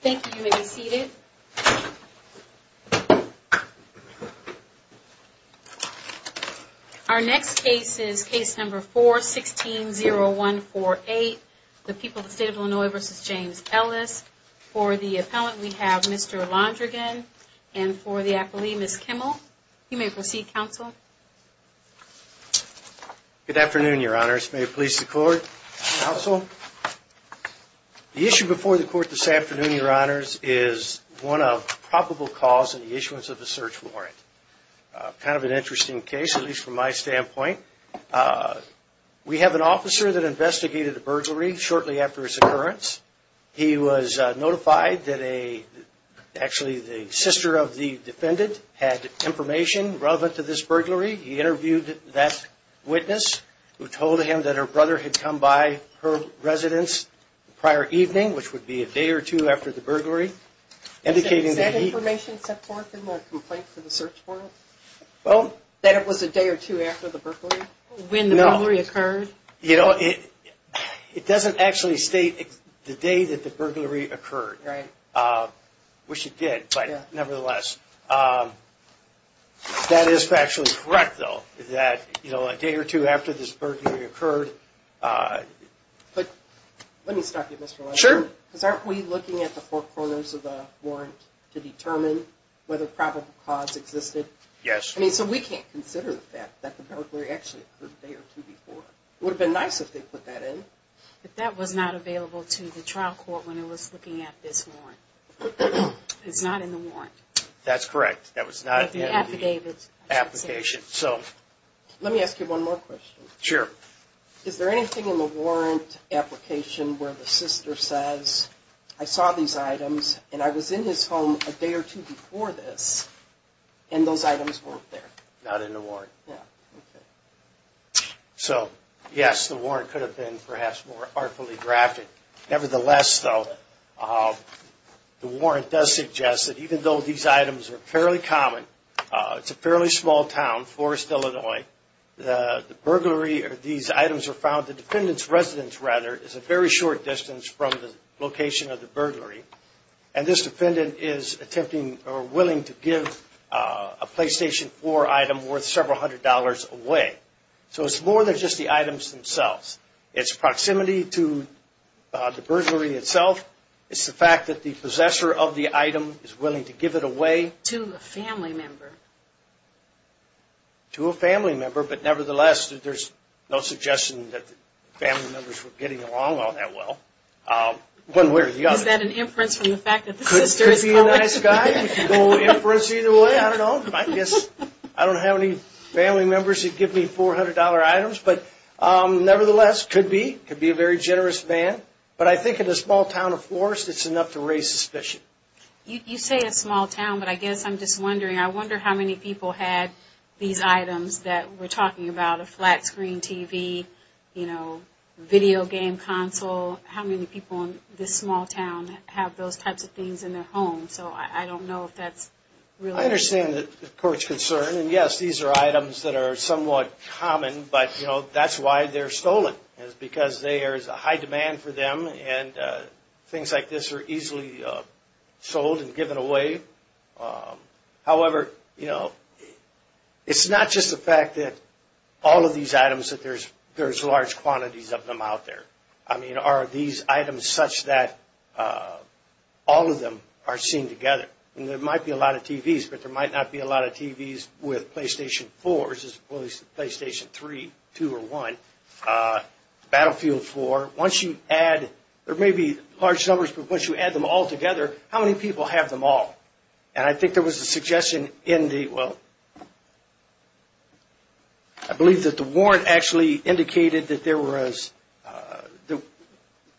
Thank you. You may be seated. Our next case is case number 4-16-0148, the people of the state of Illinois v. James Ellis. For the appellant, we have Mr. Londrigan, and for the appellee, Ms. Kimmel. You may proceed, counsel. Good afternoon, your honors. May it please the court, counsel. The issue before the court this afternoon, your honors, is one of probable cause in the issuance of a search warrant. Kind of an interesting case, at least from my standpoint. We have an officer that investigated a burglary shortly after its occurrence. He was notified that actually the sister of the defendant had information relevant to this burglary. He interviewed that witness, who told him that her brother had come by her residence prior evening, which would be a day or two after the burglary, indicating that he... Was that information set forth in the complaint for the search warrant? Well... That it was a day or two after the burglary? No. When the burglary occurred? You know, it doesn't actually state the day that the burglary occurred. Right. Which it did, but nevertheless. That is factually correct, though, that a day or two after this burglary occurred... But let me stop you, Mr. Londrigan. Sure. Because aren't we looking at the four corners of the warrant to determine whether probable cause existed? Yes. I mean, so we can't consider the fact that the burglary actually occurred a day or two before. It would have been nice if they put that in. But that was not available to the trial court when it was looking at this warrant. It's not in the warrant. That's correct. That was not in the application. Let me ask you one more question. Sure. Is there anything in the warrant application where the sister says, I saw these items, and I was in his home a day or two before this, and those items weren't there? Not in the warrant. Yeah. Okay. So, yes, the warrant could have been perhaps more artfully drafted. Nevertheless, though, the warrant does suggest that even though these items are fairly common, it's a fairly small town, Forest, Illinois, the burglary or these items are found, the defendant's residence, rather, is a very short distance from the location of the burglary, and this defendant is attempting or willing to give a PlayStation 4 item worth several hundred dollars away. So it's more than just the items themselves. It's proximity to the burglary itself. It's the fact that the possessor of the item is willing to give it away. To a family member. To a family member, but nevertheless, there's no suggestion that the family members were getting along all that well. One way or the other. Is that an inference from the fact that the sister is calling? Could be a nice guy. You could go inference either way. I don't know. I guess I don't have any family members who'd give me $400 items. But nevertheless, could be. Could be a very generous man. But I think in a small town of Forest, it's enough to raise suspicion. You say a small town, but I guess I'm just wondering. I wonder how many people had these items that we're talking about. A flat screen TV, you know, video game console. How many people in this small town have those types of things in their home? So I don't know if that's really. I understand the court's concern. And yes, these are items that are somewhat common. But, you know, that's why they're stolen. Is because there's a high demand for them. And things like this are easily sold and given away. However, you know, it's not just the fact that all of these items, that there's large quantities of them out there. I mean, are these items such that all of them are seen together? I mean, there might be a lot of TVs, but there might not be a lot of TVs with PlayStation 4 versus PlayStation 3, 2, or 1. Battlefield 4, once you add. There may be large numbers, but once you add them all together, how many people have them all? And I think there was a suggestion in the, well, I believe that the warrant actually indicated that there was,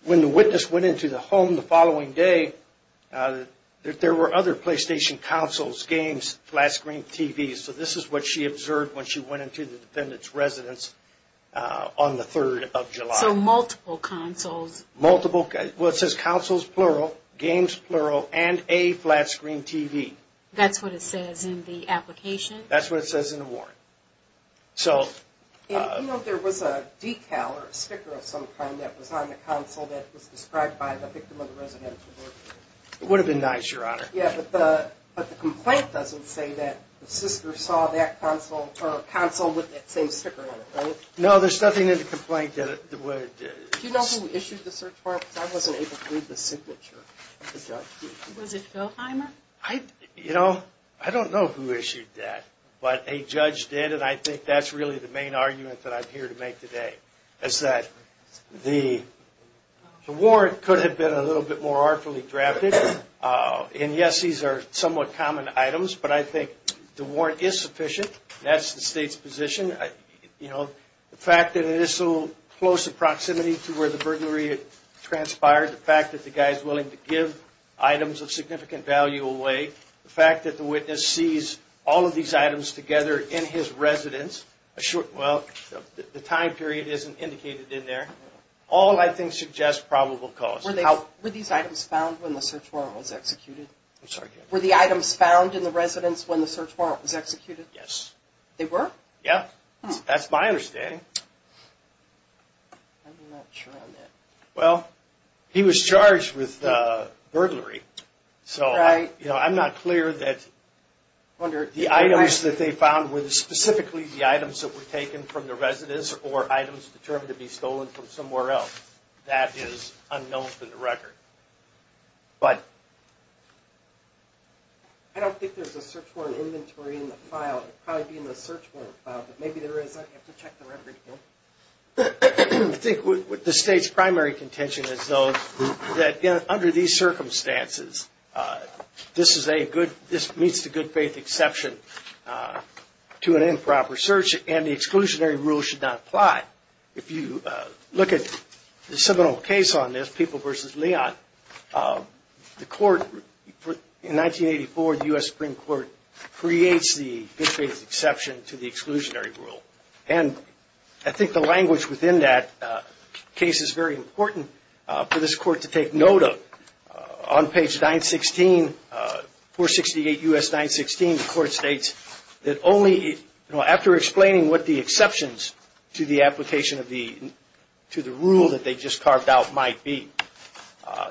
when the witness went into the home the following day, that there were other PlayStation consoles, games, flat screen TVs. So this is what she observed when she went into the defendant's residence on the 3rd of July. So multiple consoles. Multiple. Okay. Well, it says consoles, plural, games, plural, and a flat screen TV. That's what it says in the application? That's what it says in the warrant. So. You know, there was a decal or a sticker of some kind that was on the console that was described by the victim of the residential murder. It would have been nice, Your Honor. Yeah, but the complaint doesn't say that the sister saw that console with that same sticker on it, right? No, there's nothing in the complaint that would. Do you know who issued the search warrant? Because I wasn't able to read the signature. Was it Phil Heimer? You know, I don't know who issued that, but a judge did, and I think that's really the main argument that I'm here to make today, is that the warrant could have been a little bit more artfully drafted. And, yes, these are somewhat common items, but I think the warrant is sufficient. That's the State's position. The fact that it is so close in proximity to where the burglary transpired, the fact that the guy is willing to give items of significant value away, the fact that the witness sees all of these items together in his residence, well, the time period isn't indicated in there. All, I think, suggest probable cause. Were these items found when the search warrant was executed? I'm sorry? Were the items found in the residence when the search warrant was executed? Yes. They were? Yes. That's my understanding. I'm not sure on that. Well, he was charged with burglary. So I'm not clear that the items that they found were specifically the items that were taken from the residence or items determined to be stolen from somewhere else. That is unknown to the record. But I don't think there's a search warrant inventory in the file. It would probably be in the search warrant file. But maybe there is. I'd have to check the record again. I think the State's primary contention is, though, that under these circumstances this meets the good faith exception to an improper search and the exclusionary rule should not apply. If you look at the seminal case on this, People v. Leon, the court in 1984, the U.S. Supreme Court, creates the good faith exception to the exclusionary rule. And I think the language within that case is very important for this court to take note of. On page 916, 468 U.S. 916, the court states that only after explaining what the exceptions to the application to the rule that they just carved out might be,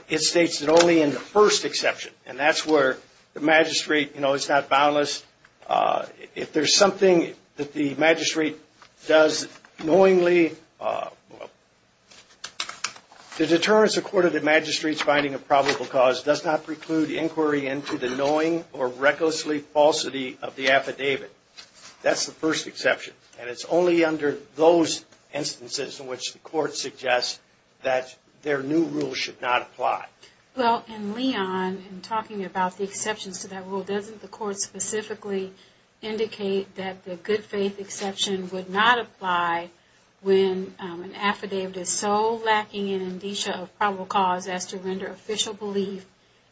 it states that only in the first exception, and that's where the magistrate is not boundless. If there's something that the magistrate does knowingly, the deterrence of court of the magistrate's finding of probable cause does not preclude inquiry into the knowing or recklessly falsity of the affidavit. That's the first exception. And it's only under those instances in which the court suggests that their new rule should not apply. Well, in Leon, in talking about the exceptions to that rule, doesn't the court specifically indicate that the good faith exception would not apply when an affidavit is so lacking in indicia of probable cause as to render official belief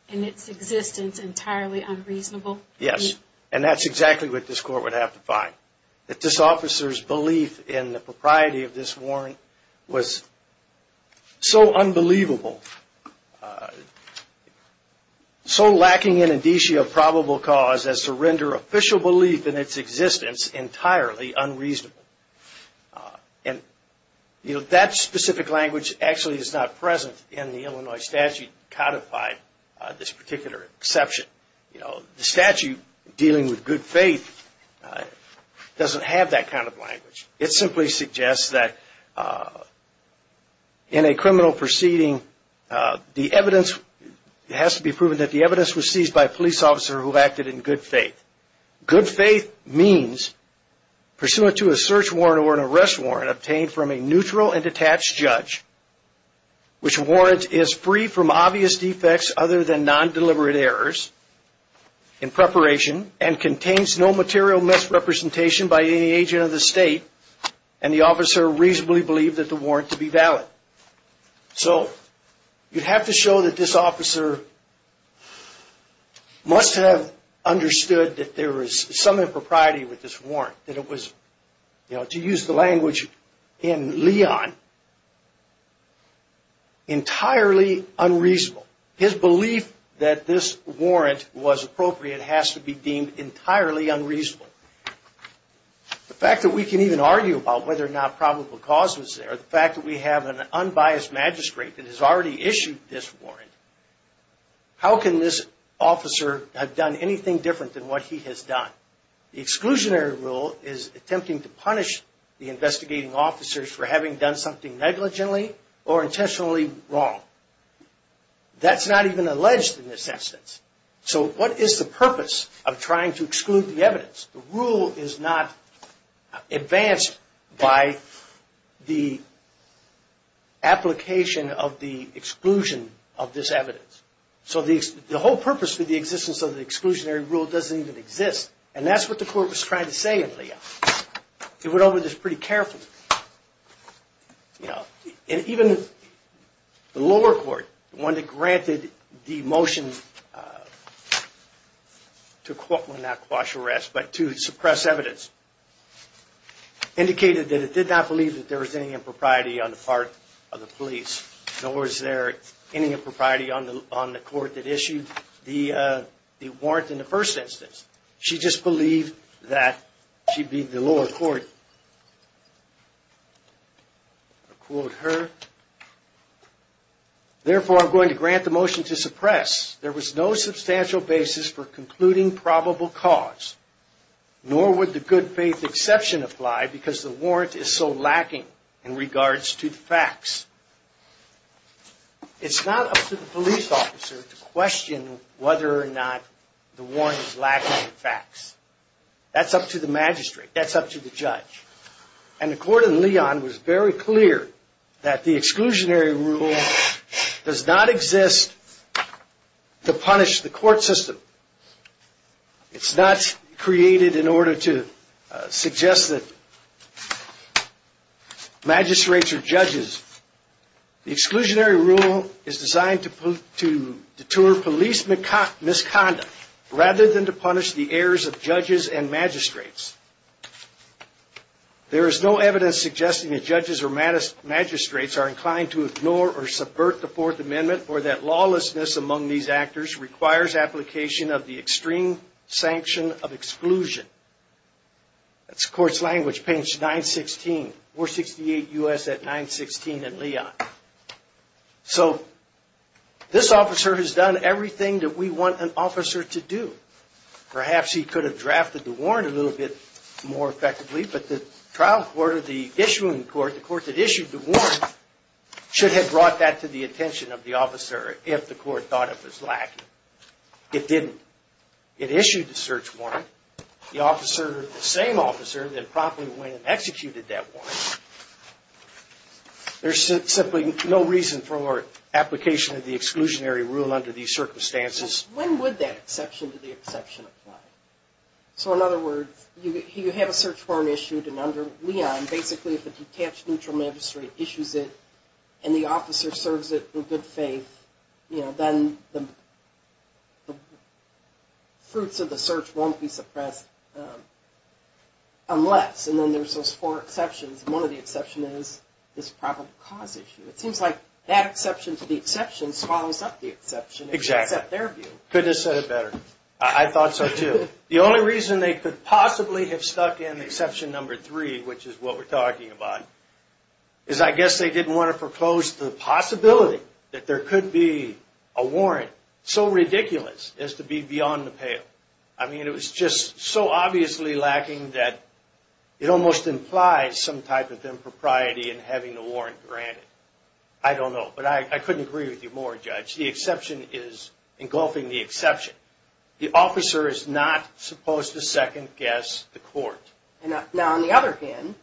in its existence entirely unreasonable? Yes, and that's exactly what this court would have to find. That this officer's belief in the propriety of this warrant was so unbelievable, so lacking in indicia of probable cause as to render official belief in its existence entirely unreasonable. And that specific language actually is not present in the Illinois statute codified this particular exception. The statute dealing with good faith doesn't have that kind of language. It simply suggests that in a criminal proceeding, the evidence has to be proven that the evidence was seized by a police officer who acted in good faith. Good faith means, pursuant to a search warrant or an arrest warrant obtained from a neutral and detached judge, which warrant is free from obvious defects other than non-deliberate errors in preparation and contains no material misrepresentation by any agent of the state and the officer reasonably believed that the warrant to be valid. So, you'd have to show that this officer must have understood that there was some impropriety with this warrant. That it was, to use the language in Leon, entirely unreasonable. His belief that this warrant was appropriate has to be deemed entirely unreasonable. The fact that we can even argue about whether or not probable cause was there, the fact that we have an unbiased magistrate that has already issued this warrant, how can this officer have done anything different than what he has done? The exclusionary rule is attempting to punish the investigating officers for having done something negligently or intentionally wrong. That's not even alleged in this instance. So, what is the purpose of trying to exclude the evidence? The rule is not advanced by the application of the exclusion of this evidence. So, the whole purpose for the existence of the exclusionary rule doesn't even exist. And that's what the court was trying to say in Leon. It went over this pretty carefully. Even the lower court, the one that granted the motion to not quash arrest but to suppress evidence, indicated that it did not believe that there was any impropriety on the part of the police. Nor is there any impropriety on the court that issued the warrant in the first instance. She just believed that she'd be the lower court. I'll quote her. Therefore, I'm going to grant the motion to suppress. There was no substantial basis for concluding probable cause, nor would the good faith exception apply because the warrant is so lacking in regards to the facts. It's not up to the police officer to question whether or not the warrant is lacking in facts. That's up to the magistrate. That's up to the judge. And the court in Leon was very clear that the exclusionary rule does not exist to punish the court system. It's not created in order to suggest that magistrates are judges. The exclusionary rule is designed to deter police misconduct rather than to punish the errors of judges and magistrates. There is no evidence suggesting that judges or magistrates are inclined to ignore or subvert the Fourth Amendment or that lawlessness among these actors requires application of the extreme sanction of exclusion. That's the court's language, page 916, 468 U.S. at 916 in Leon. So this officer has done everything that we want an officer to do. Perhaps he could have drafted the warrant a little bit more effectively, but the trial court or the issuing court, the court that issued the warrant, should have brought that to the attention of the officer if the court thought it was lacking. It didn't. It issued the search warrant. The officer, the same officer, then promptly went and executed that warrant. There's simply no reason for application of the exclusionary rule under these circumstances. When would that exception to the exception apply? So in other words, you have a search warrant issued and under Leon, basically if a detached neutral magistrate issues it and the officer serves it in good faith, then the fruits of the search won't be suppressed unless, and then there's those four exceptions. One of the exceptions is this probable cause issue. It seems like that exception to the exception swallows up the exception if you accept their view. Exactly. Couldn't have said it better. I thought so, too. The only reason they could possibly have stuck in exception number three, which is what we're talking about, is I guess they didn't want to propose the possibility that there could be a warrant so ridiculous as to be beyond the pale. I mean, it was just so obviously lacking that it almost implies some type of impropriety in having the warrant granted. I don't know, but I couldn't agree with you more, Judge. The exception is engulfing the exception. The officer is not supposed to second-guess the court. Now on the other hand,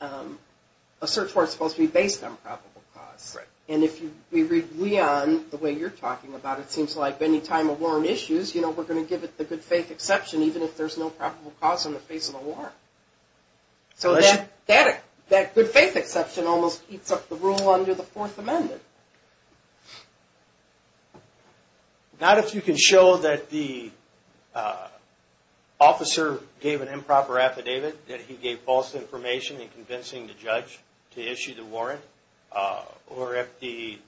a search warrant is supposed to be based on probable cause. And if we read Leon the way you're talking about it, it seems like any time a warrant issues, we're going to give it the good faith exception even if there's no probable cause on the face of the warrant. So that good faith exception almost eats up the rule under the Fourth Amendment. Not if you can show that the officer gave an improper affidavit, that he gave false information in convincing the judge to issue the warrant, or if the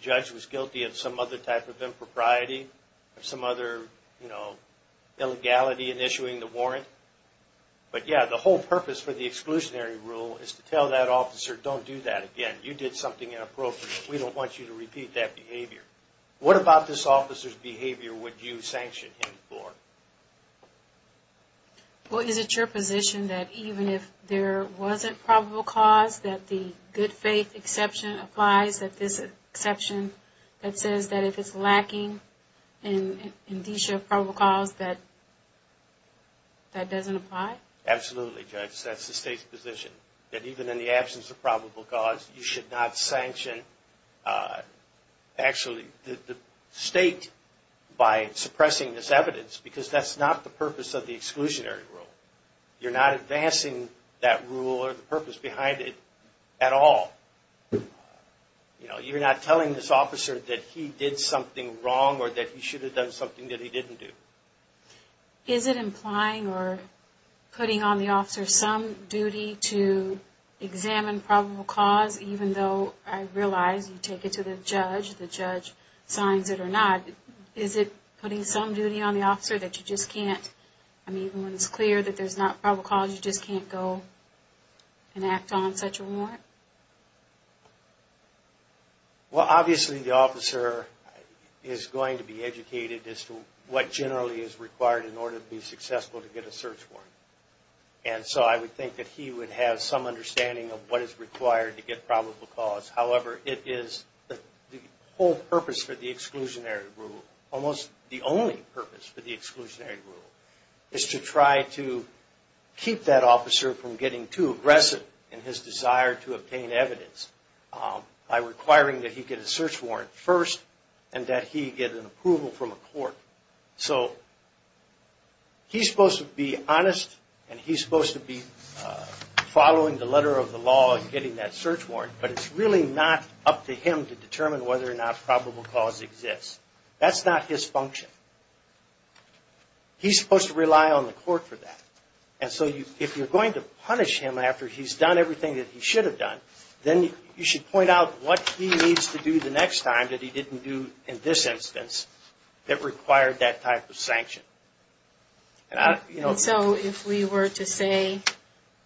judge was guilty of some other type of impropriety, some other illegality in issuing the warrant. But yeah, the whole purpose for the exclusionary rule is to tell that officer, don't do that again. You did something inappropriate. We don't want you to repeat that behavior. What about this officer's behavior would you sanction him for? Well, is it your position that even if there wasn't probable cause, that the good faith exception applies, that this exception, that says that if it's lacking in the issue of probable cause, that that doesn't apply? Absolutely, Judge. That's the state's position, that even in the absence of probable cause, you should not sanction actually the state by suppressing this evidence because that's not the purpose of the exclusionary rule. You're not advancing that rule or the purpose behind it at all. You're not telling this officer that he did something wrong or that he should have done something that he didn't do. Is it implying or putting on the officer some duty to examine probable cause, even though I realize you take it to the judge, the judge signs it or not, is it putting some duty on the officer that you just can't, I mean, when it's clear that there's not probable cause, you just can't go and act on such a warrant? Well, obviously the officer is going to be educated as to what generally is required in order to be successful to get a search warrant. And so I would think that he would have some understanding of what is required to get probable cause. However, it is the whole purpose for the exclusionary rule, almost the only purpose for the exclusionary rule, is to try to keep that officer from getting too aggressive in his desire to obtain evidence by requiring that he get a search warrant first and that he get an approval from a court. So he's supposed to be honest and he's supposed to be following the letter of the law and getting that search warrant, but it's really not up to him to determine whether or not probable cause exists. That's not his function. He's supposed to rely on the court for that. And so if you're going to punish him after he's done everything that he should have done, then you should point out what he needs to do the next time that he didn't do in this instance that required that type of sanction. And so if we were to say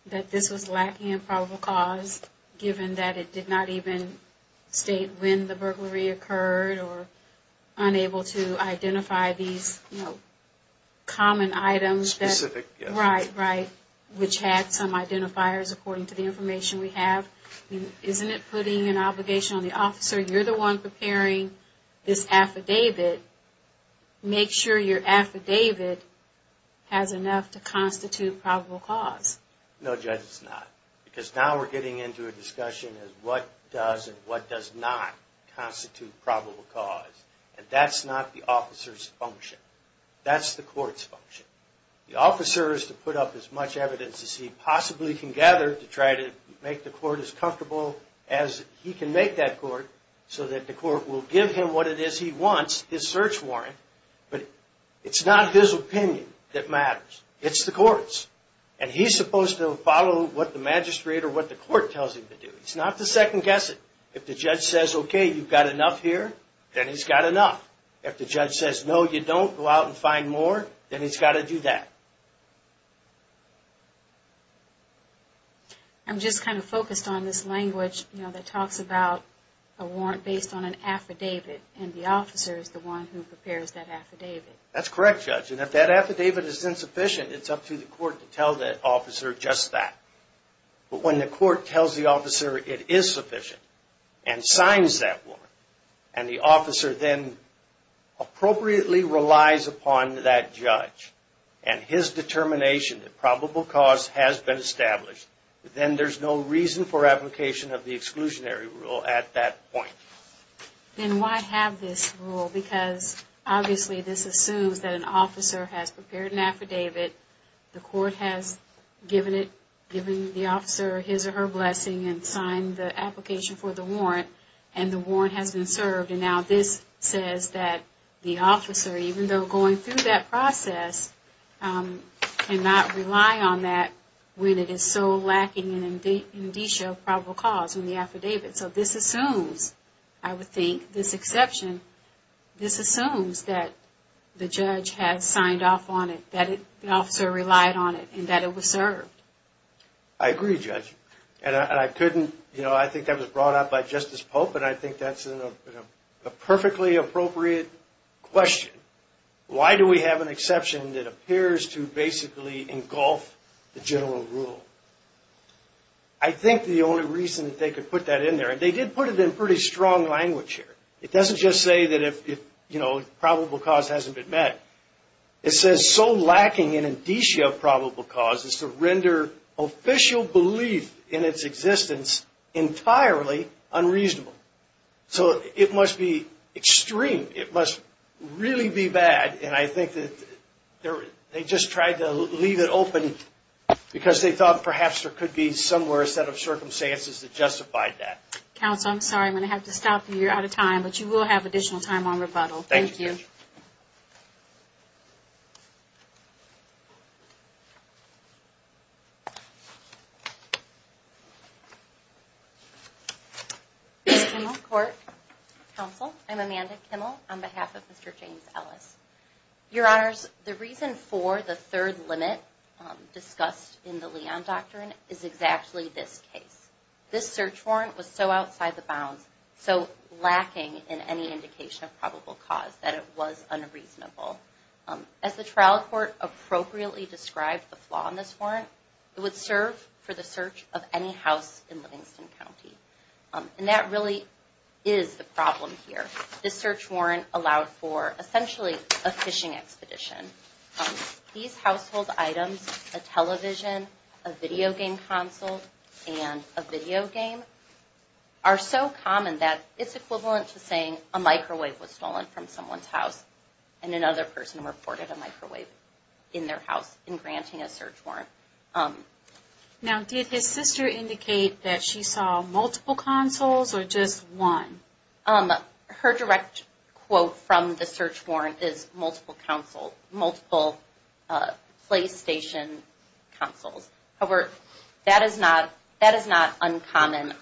that this was lacking in probable cause, given that it did not even state when the burglary occurred or unable to identify these common items, which had some identifiers according to the information we have, isn't it putting an obligation on the officer? You're the one preparing this affidavit. Make sure your affidavit has enough to constitute probable cause. No, Judge, it's not. Because now we're getting into a discussion of what does and what does not constitute probable cause. And that's not the officer's function. That's the court's function. The officer is to put up as much evidence as he possibly can gather to try to make the court as comfortable as he can make that court so that the court will give him what it is he wants, his search warrant, but it's not his opinion that matters. It's the court's. And he's supposed to follow what the magistrate or what the court tells him to do. It's not the second-guessing. If the judge says, okay, you've got enough here, then he's got enough. If the judge says, no, you don't, go out and find more, then he's got to do that. I'm just kind of focused on this language that talks about a warrant based on an affidavit, and the officer is the one who prepares that affidavit. That's correct, Judge. And if that affidavit is insufficient, it's up to the court to tell the officer just that. But when the court tells the officer it is sufficient and signs that warrant, and the officer then appropriately relies upon that judge and his determination that probable cause has been established, then there's no reason for application of the exclusionary rule at that point. Then why have this rule? Because obviously this assumes that an officer has prepared an affidavit, the court has given it, given the officer his or her blessing and signed the application for the warrant, and the warrant has been served. And now this says that the officer, even though going through that process, cannot rely on that when it is so lacking in indicia of probable cause in the affidavit. So this assumes, I would think, this exception, this assumes that the judge has signed off on it, that the officer relied on it, and that it was served. I agree, Judge. And I couldn't, you know, I think that was brought up by Justice Pope, and I think that's a perfectly appropriate question. Why do we have an exception that appears to basically engulf the general rule? I think the only reason that they could put that in there, and they did put it in pretty strong language here, it doesn't just say that if, you know, probable cause hasn't been met. It says so lacking in indicia of probable cause is to render official belief in its existence entirely unreasonable. So it must be extreme, it must really be bad, and I think that they just tried to leave it open because they thought perhaps there could be somewhere, a set of circumstances that justified that. Counsel, I'm sorry, I'm going to have to stop you. You're out of time, but you will have additional time on rebuttal. Thank you. Thank you. Court, Counsel, I'm Amanda Kimmel on behalf of Mr. James Ellis. Your Honors, the reason for the third limit discussed in the Leon Doctrine is exactly this case. This search warrant was so outside the bounds, so lacking in any indication of probable cause, that it was unreasonable. As the trial court appropriately described the flaw in this warrant, it would serve for the search of any house in Livingston County, and that really is the problem here. This search warrant allowed for essentially a fishing expedition. These household items, a television, a video game console, and a video game, are so common that it's equivalent to saying a microwave was stolen from someone's house, and another person reported a microwave in their house in granting a search warrant. Now, did his sister indicate that she saw multiple consoles or just one? Her direct quote from the search warrant is multiple console, multiple PlayStation consoles. However, that is not uncommon.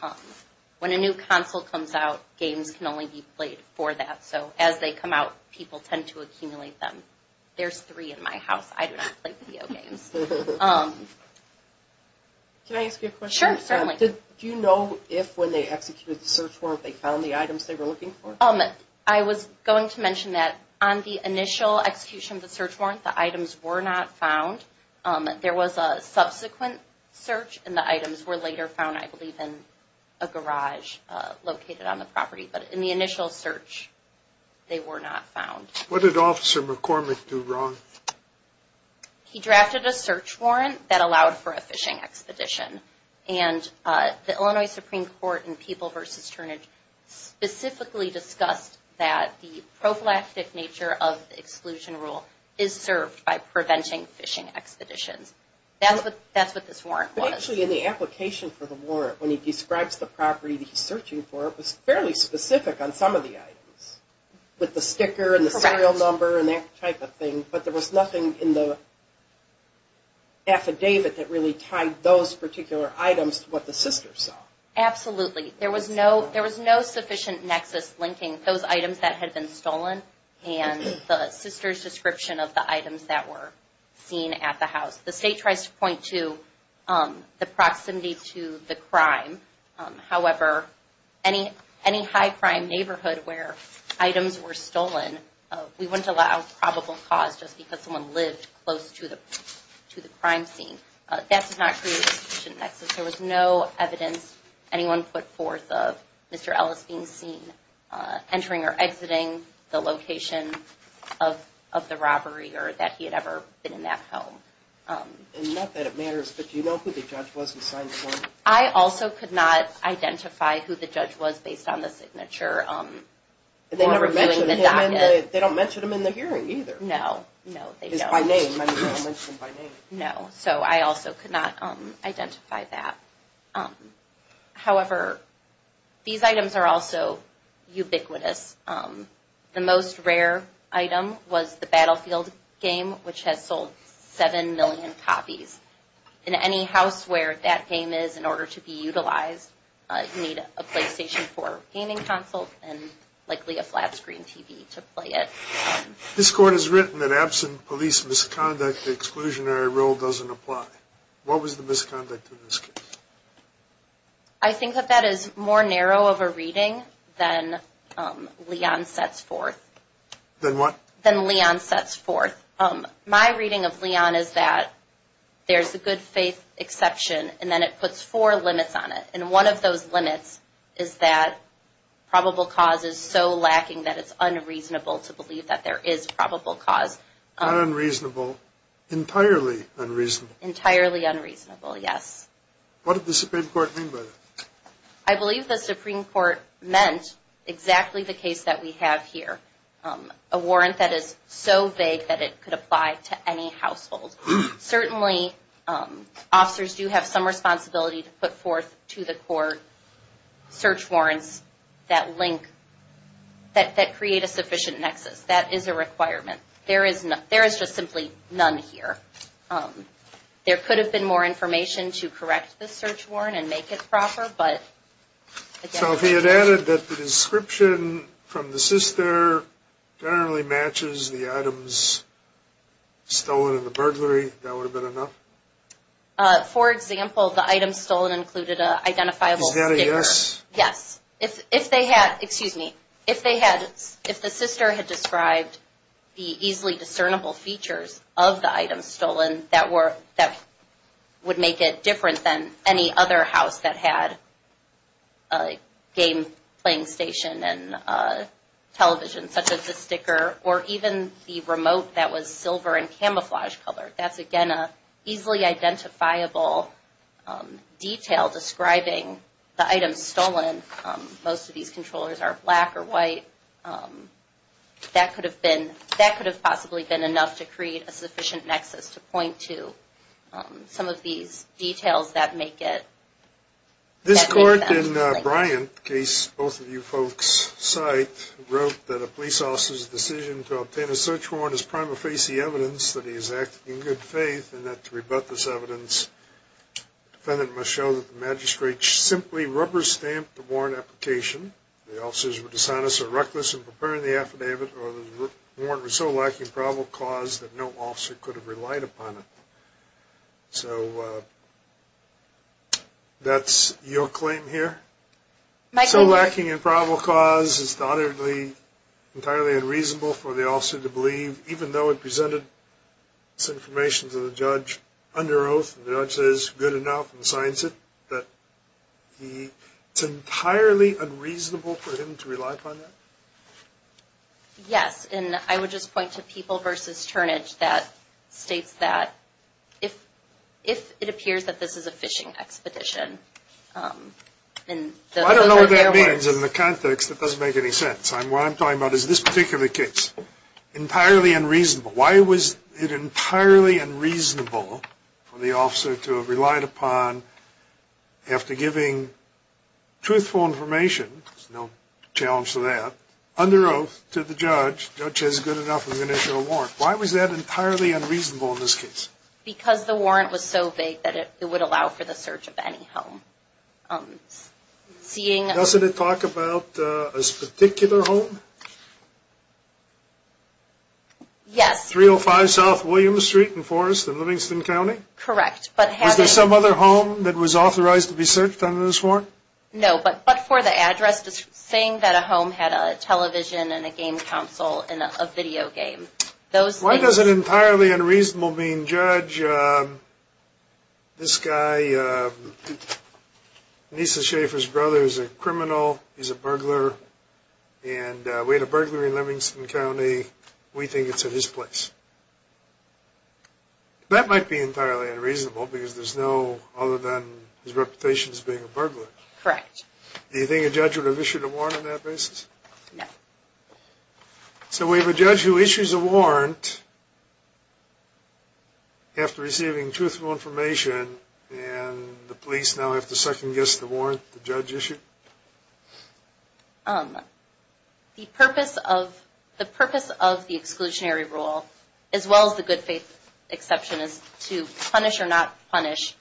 When a new console comes out, games can only be played for that. So as they come out, people tend to accumulate them. There's three in my house. I do not play video games. Can I ask you a question? Sure, certainly. Do you know if, when they executed the search warrant, they found the items they were looking for? I was going to mention that on the initial execution of the search warrant, the items were not found. There was a subsequent search, and the items were later found, I believe, in a garage located on the property. But in the initial search, they were not found. What did Officer McCormick do wrong? He drafted a search warrant that allowed for a fishing expedition. And the Illinois Supreme Court in People v. Turnage specifically discussed that the prophylactic nature of the exclusion rule is served by preventing fishing expeditions. That's what this warrant was. But actually, in the application for the warrant, when he describes the property that he's searching for, it was fairly specific on some of the items, with the sticker and the serial number and that type of thing. But there was nothing in the affidavit that really tied those particular items to what the sisters saw. Absolutely. There was no sufficient nexus linking those items that had been stolen and the sisters' description of the items that were seen at the house. The state tries to point to the proximity to the crime. However, any high-crime neighborhood where items were stolen, we wouldn't allow probable cause just because someone lived close to the crime scene. That does not create a sufficient nexus. There was no evidence anyone put forth of Mr. Ellis being seen entering or exiting the location of the robbery or that he had ever been in that home. And not that it matters, but do you know who the judge was who signed the form? I also could not identify who the judge was based on the signature. They don't mention him in the hearing either. No, no, they don't. It's by name. No, so I also could not identify that. However, these items are also ubiquitous. The most rare item was the Battlefield game, which has sold 7 million copies. In any house where that game is in order to be utilized, you need a PlayStation 4 gaming console and likely a flat-screen TV to play it. This court has written that absent police misconduct, the exclusionary rule doesn't apply. What was the misconduct in this case? I think that that is more narrow of a reading than Leon sets forth. Than what? Than Leon sets forth. My reading of Leon is that there's a good faith exception and then it puts four limits on it. And one of those limits is that probable cause is so lacking that it's unreasonable to believe that there is probable cause. Not unreasonable, entirely unreasonable. Entirely unreasonable, yes. What did the Supreme Court mean by that? I believe the Supreme Court meant exactly the case that we have here. A warrant that is so vague that it could apply to any household. Certainly, officers do have some responsibility to put forth to the court search warrants that link, that create a sufficient nexus. That is a requirement. There is just simply none here. There could have been more information to correct the search warrant and make it proper, but... So if he had added that the description from the sister generally matches the items stolen in the burglary, that would have been enough? For example, the items stolen included an identifiable sticker. Is that a yes? Yes. Excuse me. If the sister had described the easily discernible features of the items stolen, that would make it different than any other house that had a game playing station and television, such as the sticker, or even the remote that was silver in camouflage color. That's, again, an easily identifiable detail describing the items stolen. Most of these controllers are black or white. That could have possibly been enough to create a sufficient nexus to point to some of these details that make it... This court in Bryant, the case both of you folks cite, wrote that a police officer's decision to obtain a search warrant is prima facie evidence that he has acted in good faith and that to rebut this evidence, the defendant must show that the magistrate simply rubber-stamped the warrant application, the officers were dishonest or reckless in preparing the affidavit, or the warrant was so lacking in probable cause that no officer could have relied upon it. So that's your claim here? So lacking in probable cause is undoubtedly entirely unreasonable for the officer to believe, even though it presented this information to the judge under oath, and the judge says good enough and signs it, that it's entirely unreasonable for him to rely upon that? Yes, and I would just point to People v. Turnage that states that if it appears that this is a phishing expedition... I don't know what that means in the context. That doesn't make any sense. What I'm talking about is this particular case. Entirely unreasonable. Why was it entirely unreasonable for the officer to have relied upon, after giving truthful information, there's no challenge to that, under oath to the judge, the judge says good enough and is going to issue a warrant. Why was that entirely unreasonable in this case? Because the warrant was so vague that it would allow for the search of any home. Doesn't it talk about this particular home? Yes. 305 South Williams Street in Forest in Livingston County? Correct. Was there some other home that was authorized to be searched under this warrant? No, but for the address, saying that a home had a television and a game console and a video game. Why does it entirely unreasonable mean, judge, this guy, Nisa Schaffer's brother is a criminal, he's a burglar, and we had a burglar in Livingston County, we think it's in his place. That might be entirely unreasonable because there's no other than his reputation as being a burglar. Correct. Do you think a judge would have issued a warrant on that basis? No. So we have a judge who issues a warrant after receiving truthful information and the police now have to second guess the warrant the judge issued? The purpose of the exclusionary rule, as well as the good faith exception, is to punish or not punish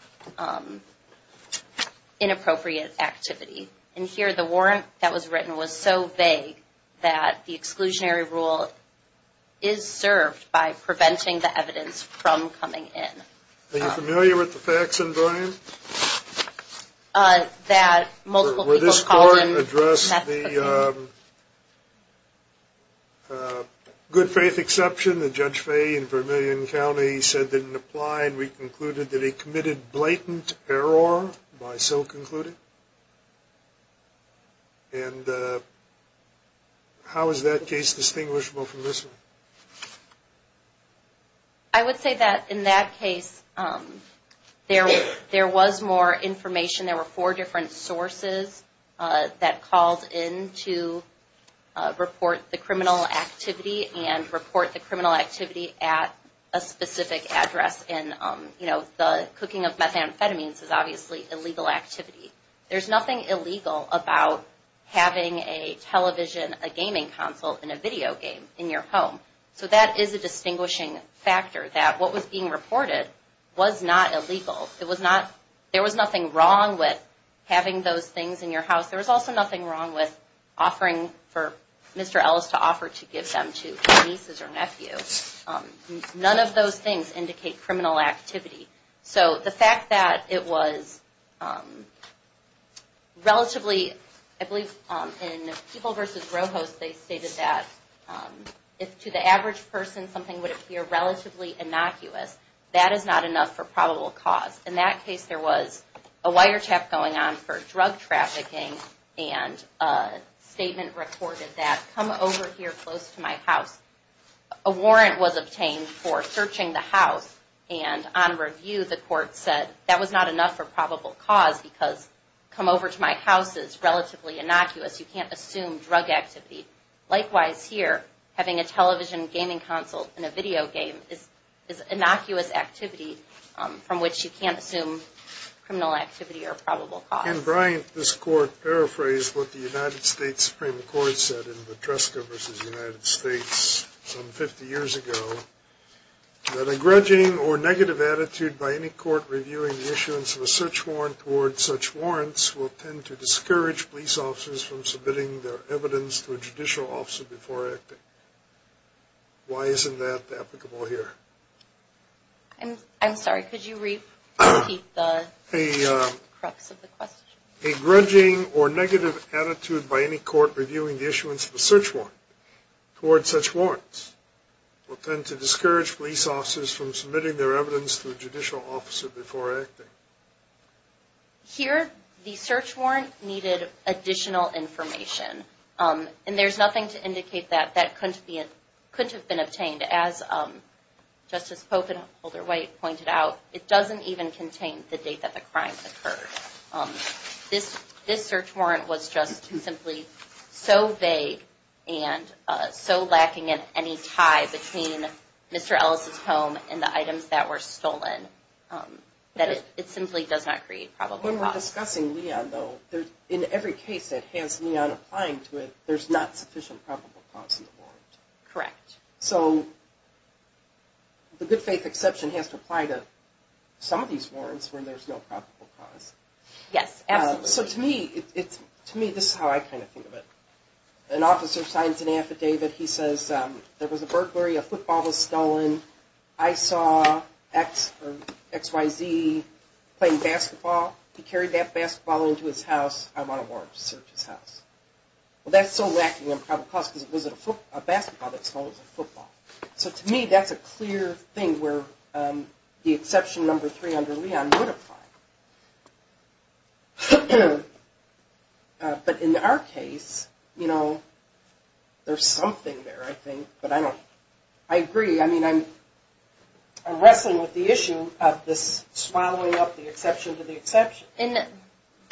inappropriate activity. And here the warrant that was written was so vague that the exclusionary rule is served by preventing the evidence from coming in. Are you familiar with the facts in volume? Were this court addressed the good faith exception that Judge Fay in Vermillion County said didn't apply and we concluded that he committed blatant error by so concluding? And how is that case distinguishable from this one? I would say that in that case there was more information. There were four different sources that called in to report the criminal activity and report the criminal activity at a specific address. And, you know, the cooking of methamphetamines is obviously illegal activity. There's nothing illegal about having a television, a gaming console, and a video game in your home. So that is a distinguishing factor that what was being reported was not illegal. There was nothing wrong with having those things in your house. There was also nothing wrong with offering for Mr. Ellis to offer to give them to his nieces or nephew. None of those things indicate criminal activity. So the fact that it was relatively, I believe in People v. Roehost they stated that if to the average person something would appear relatively innocuous, that is not enough for probable cause. In that case there was a wiretap going on for drug trafficking and a statement reported that come over here close to my house. A warrant was obtained for searching the house and on review the court said that was not enough for probable cause because come over to my house is relatively innocuous. You can't assume drug activity. Likewise here, having a television, gaming console, and a video game is innocuous activity from which you can't assume criminal activity or probable cause. Ken Bryant, this court, paraphrased what the United States Supreme Court said in the Dreska v. United States some 50 years ago, that a grudging or negative attitude by any court reviewing the issuance of a search warrant towards such warrants will tend to discourage police officers from submitting their evidence to a judicial officer before acting. Why isn't that applicable here? I'm sorry, could you repeat the crux of the question? A grudging or negative attitude by any court reviewing the issuance of a search warrant towards such warrants will tend to discourage police officers from submitting their evidence to a judicial officer before acting. Here the search warrant needed additional information and there's nothing to indicate that that couldn't have been obtained. As Justice Pope and Holder White pointed out, it doesn't even contain the date that the crime occurred. This search warrant was just simply so vague and so lacking in any tie between Mr. Ellis' home and the items that were stolen that it simply does not create probable cause. When we're discussing Leon, though, in every case that has Leon applying to it, there's not sufficient probable cause in the warrant. Correct. So the good faith exception has to apply to some of these warrants where there's no probable cause. Yes, absolutely. So to me, this is how I kind of think of it. An officer signs an affidavit, he says there was a burglary, a football was stolen, I saw XYZ playing basketball. He carried that basketball into his house. I want a warrant to search his house. Well, that's so lacking in probable cause because it was a basketball that was stolen. It was a football. So to me, that's a clear thing where the exception number three under Leon would apply. But in our case, you know, there's something there, I think, but I agree. I mean, I'm wrestling with the issue of this swallowing up the exception to the exception.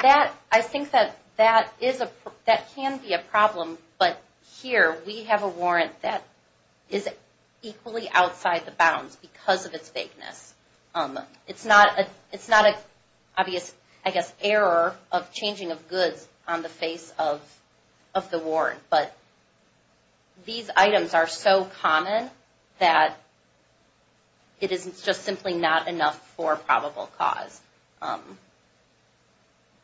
I think that that can be a problem, but here we have a warrant that is equally outside the bounds because of its vagueness. It's not an obvious, I guess, error of changing of goods on the face of the warrant, but these items are so common that it is just simply not enough for probable cause.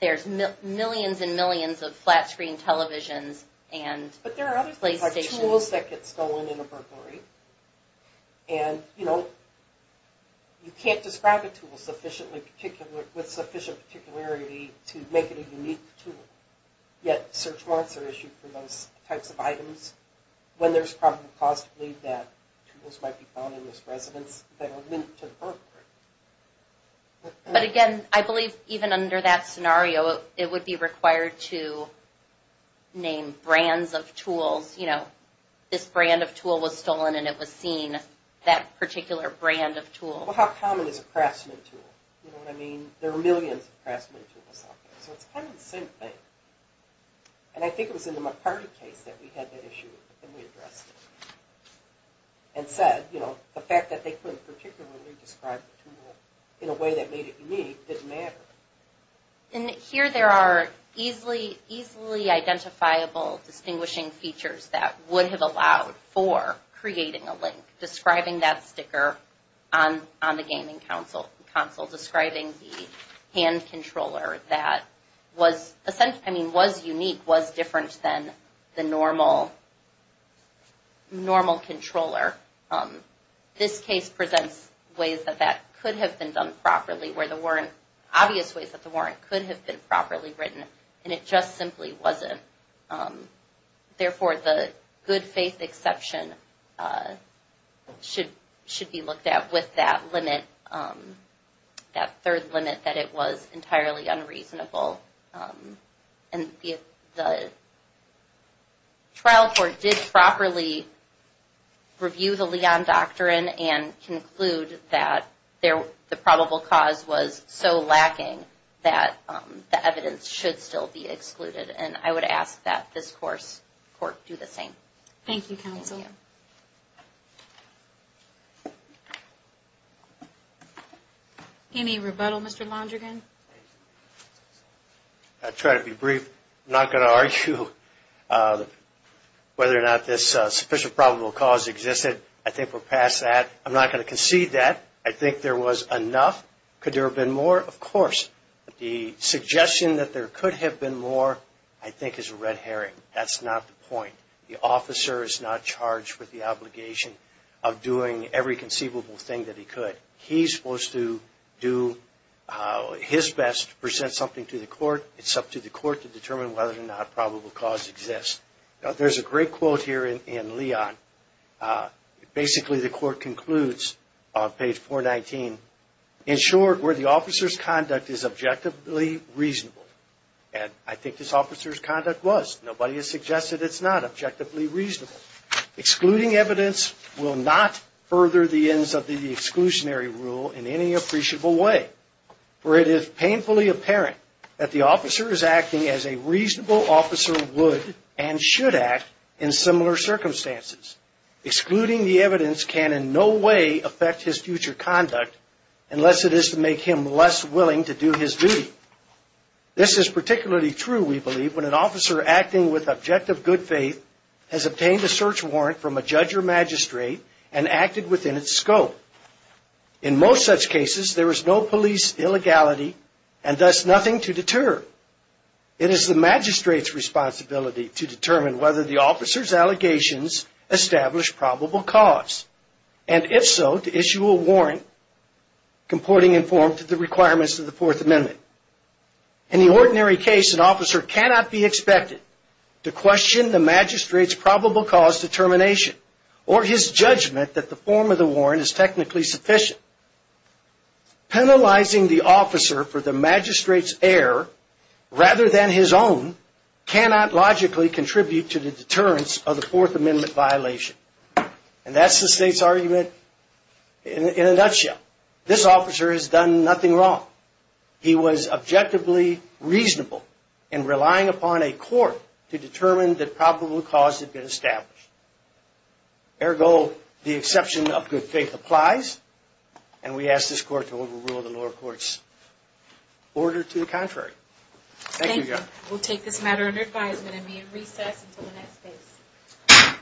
There's millions and millions of flat screen televisions and playstations. But there are other types of tools that get stolen in a burglary. And, you know, you can't describe a tool with sufficient particularity to make it a unique tool. Yet search warrants are issued for those types of items when there's probable cause to believe that tools might be found in this residence that are linked to the burglary. But again, I believe even under that scenario, it would be required to name brands of tools. You know, this brand of tool was stolen and it was seen, that particular brand of tool. Well, how common is a craftsman tool? You know what I mean? There are millions of craftsman tools out there. So it's kind of the same thing. And I think it was in the McCarty case that we had that issue and we addressed it. And said, you know, the fact that they couldn't particularly describe the tool in a way that made it unique didn't matter. And here there are easily identifiable distinguishing features that would have allowed for creating a link, describing that sticker on the gaming console, describing the hand controller that was unique, was different than the normal controller. This case presents ways that that could have been done properly, where there weren't obvious ways that the warrant could have been properly written. And it just simply wasn't. Therefore, the good faith exception should be looked at with that limit, that third limit that it was entirely unreasonable. And if the trial court did properly review the Leon Doctrine and conclude that the probable cause was so lacking that the evidence should still be excluded. And I would ask that this court do the same. Thank you, counsel. Any rebuttal, Mr. Londrigan? I'll try to be brief. I'm not going to argue whether or not this sufficient probable cause existed. I think we're past that. I'm not going to concede that. I think there was enough. Could there have been more? Of course. The suggestion that there could have been more, I think, is a red herring. That's not the point. The officer is not charged with the obligation of doing every conceivable thing that he could. He's supposed to do his best to present something to the court. It's up to the court to determine whether or not probable cause exists. There's a great quote here in Leon. Basically, the court concludes on page 419. In short, where the officer's conduct is objectively reasonable. And I think this officer's conduct was. Nobody has suggested it's not objectively reasonable. Excluding evidence will not further the ends of the exclusionary rule in any appreciable way. For it is painfully apparent that the officer is acting as a reasonable officer would and should act in similar circumstances. Excluding the evidence can in no way affect his future conduct unless it is to make him less willing to do his duty. This is particularly true, we believe, when an officer acting with objective good faith has obtained a search warrant from a judge or magistrate and acted within its scope. In most such cases, there is no police illegality and thus nothing to deter. It is the magistrate's responsibility to determine whether the officer's allegations establish probable cause. And if so, to issue a warrant comporting in form to the requirements of the Fourth Amendment. In the ordinary case, an officer cannot be expected to question the magistrate's probable cause determination or his judgment that the form of the warrant is technically sufficient. Penalizing the officer for the magistrate's error rather than his own cannot logically contribute to the deterrence of the Fourth Amendment violation. And that's the State's argument in a nutshell. This officer has done nothing wrong. He was objectively reasonable in relying upon a court to determine that probable cause had been established. Ergo, the exception of good faith applies. And we ask this court to overrule the lower court's order to the contrary. Thank you, Judge. We'll take this matter under advisement and may it recess until the next case.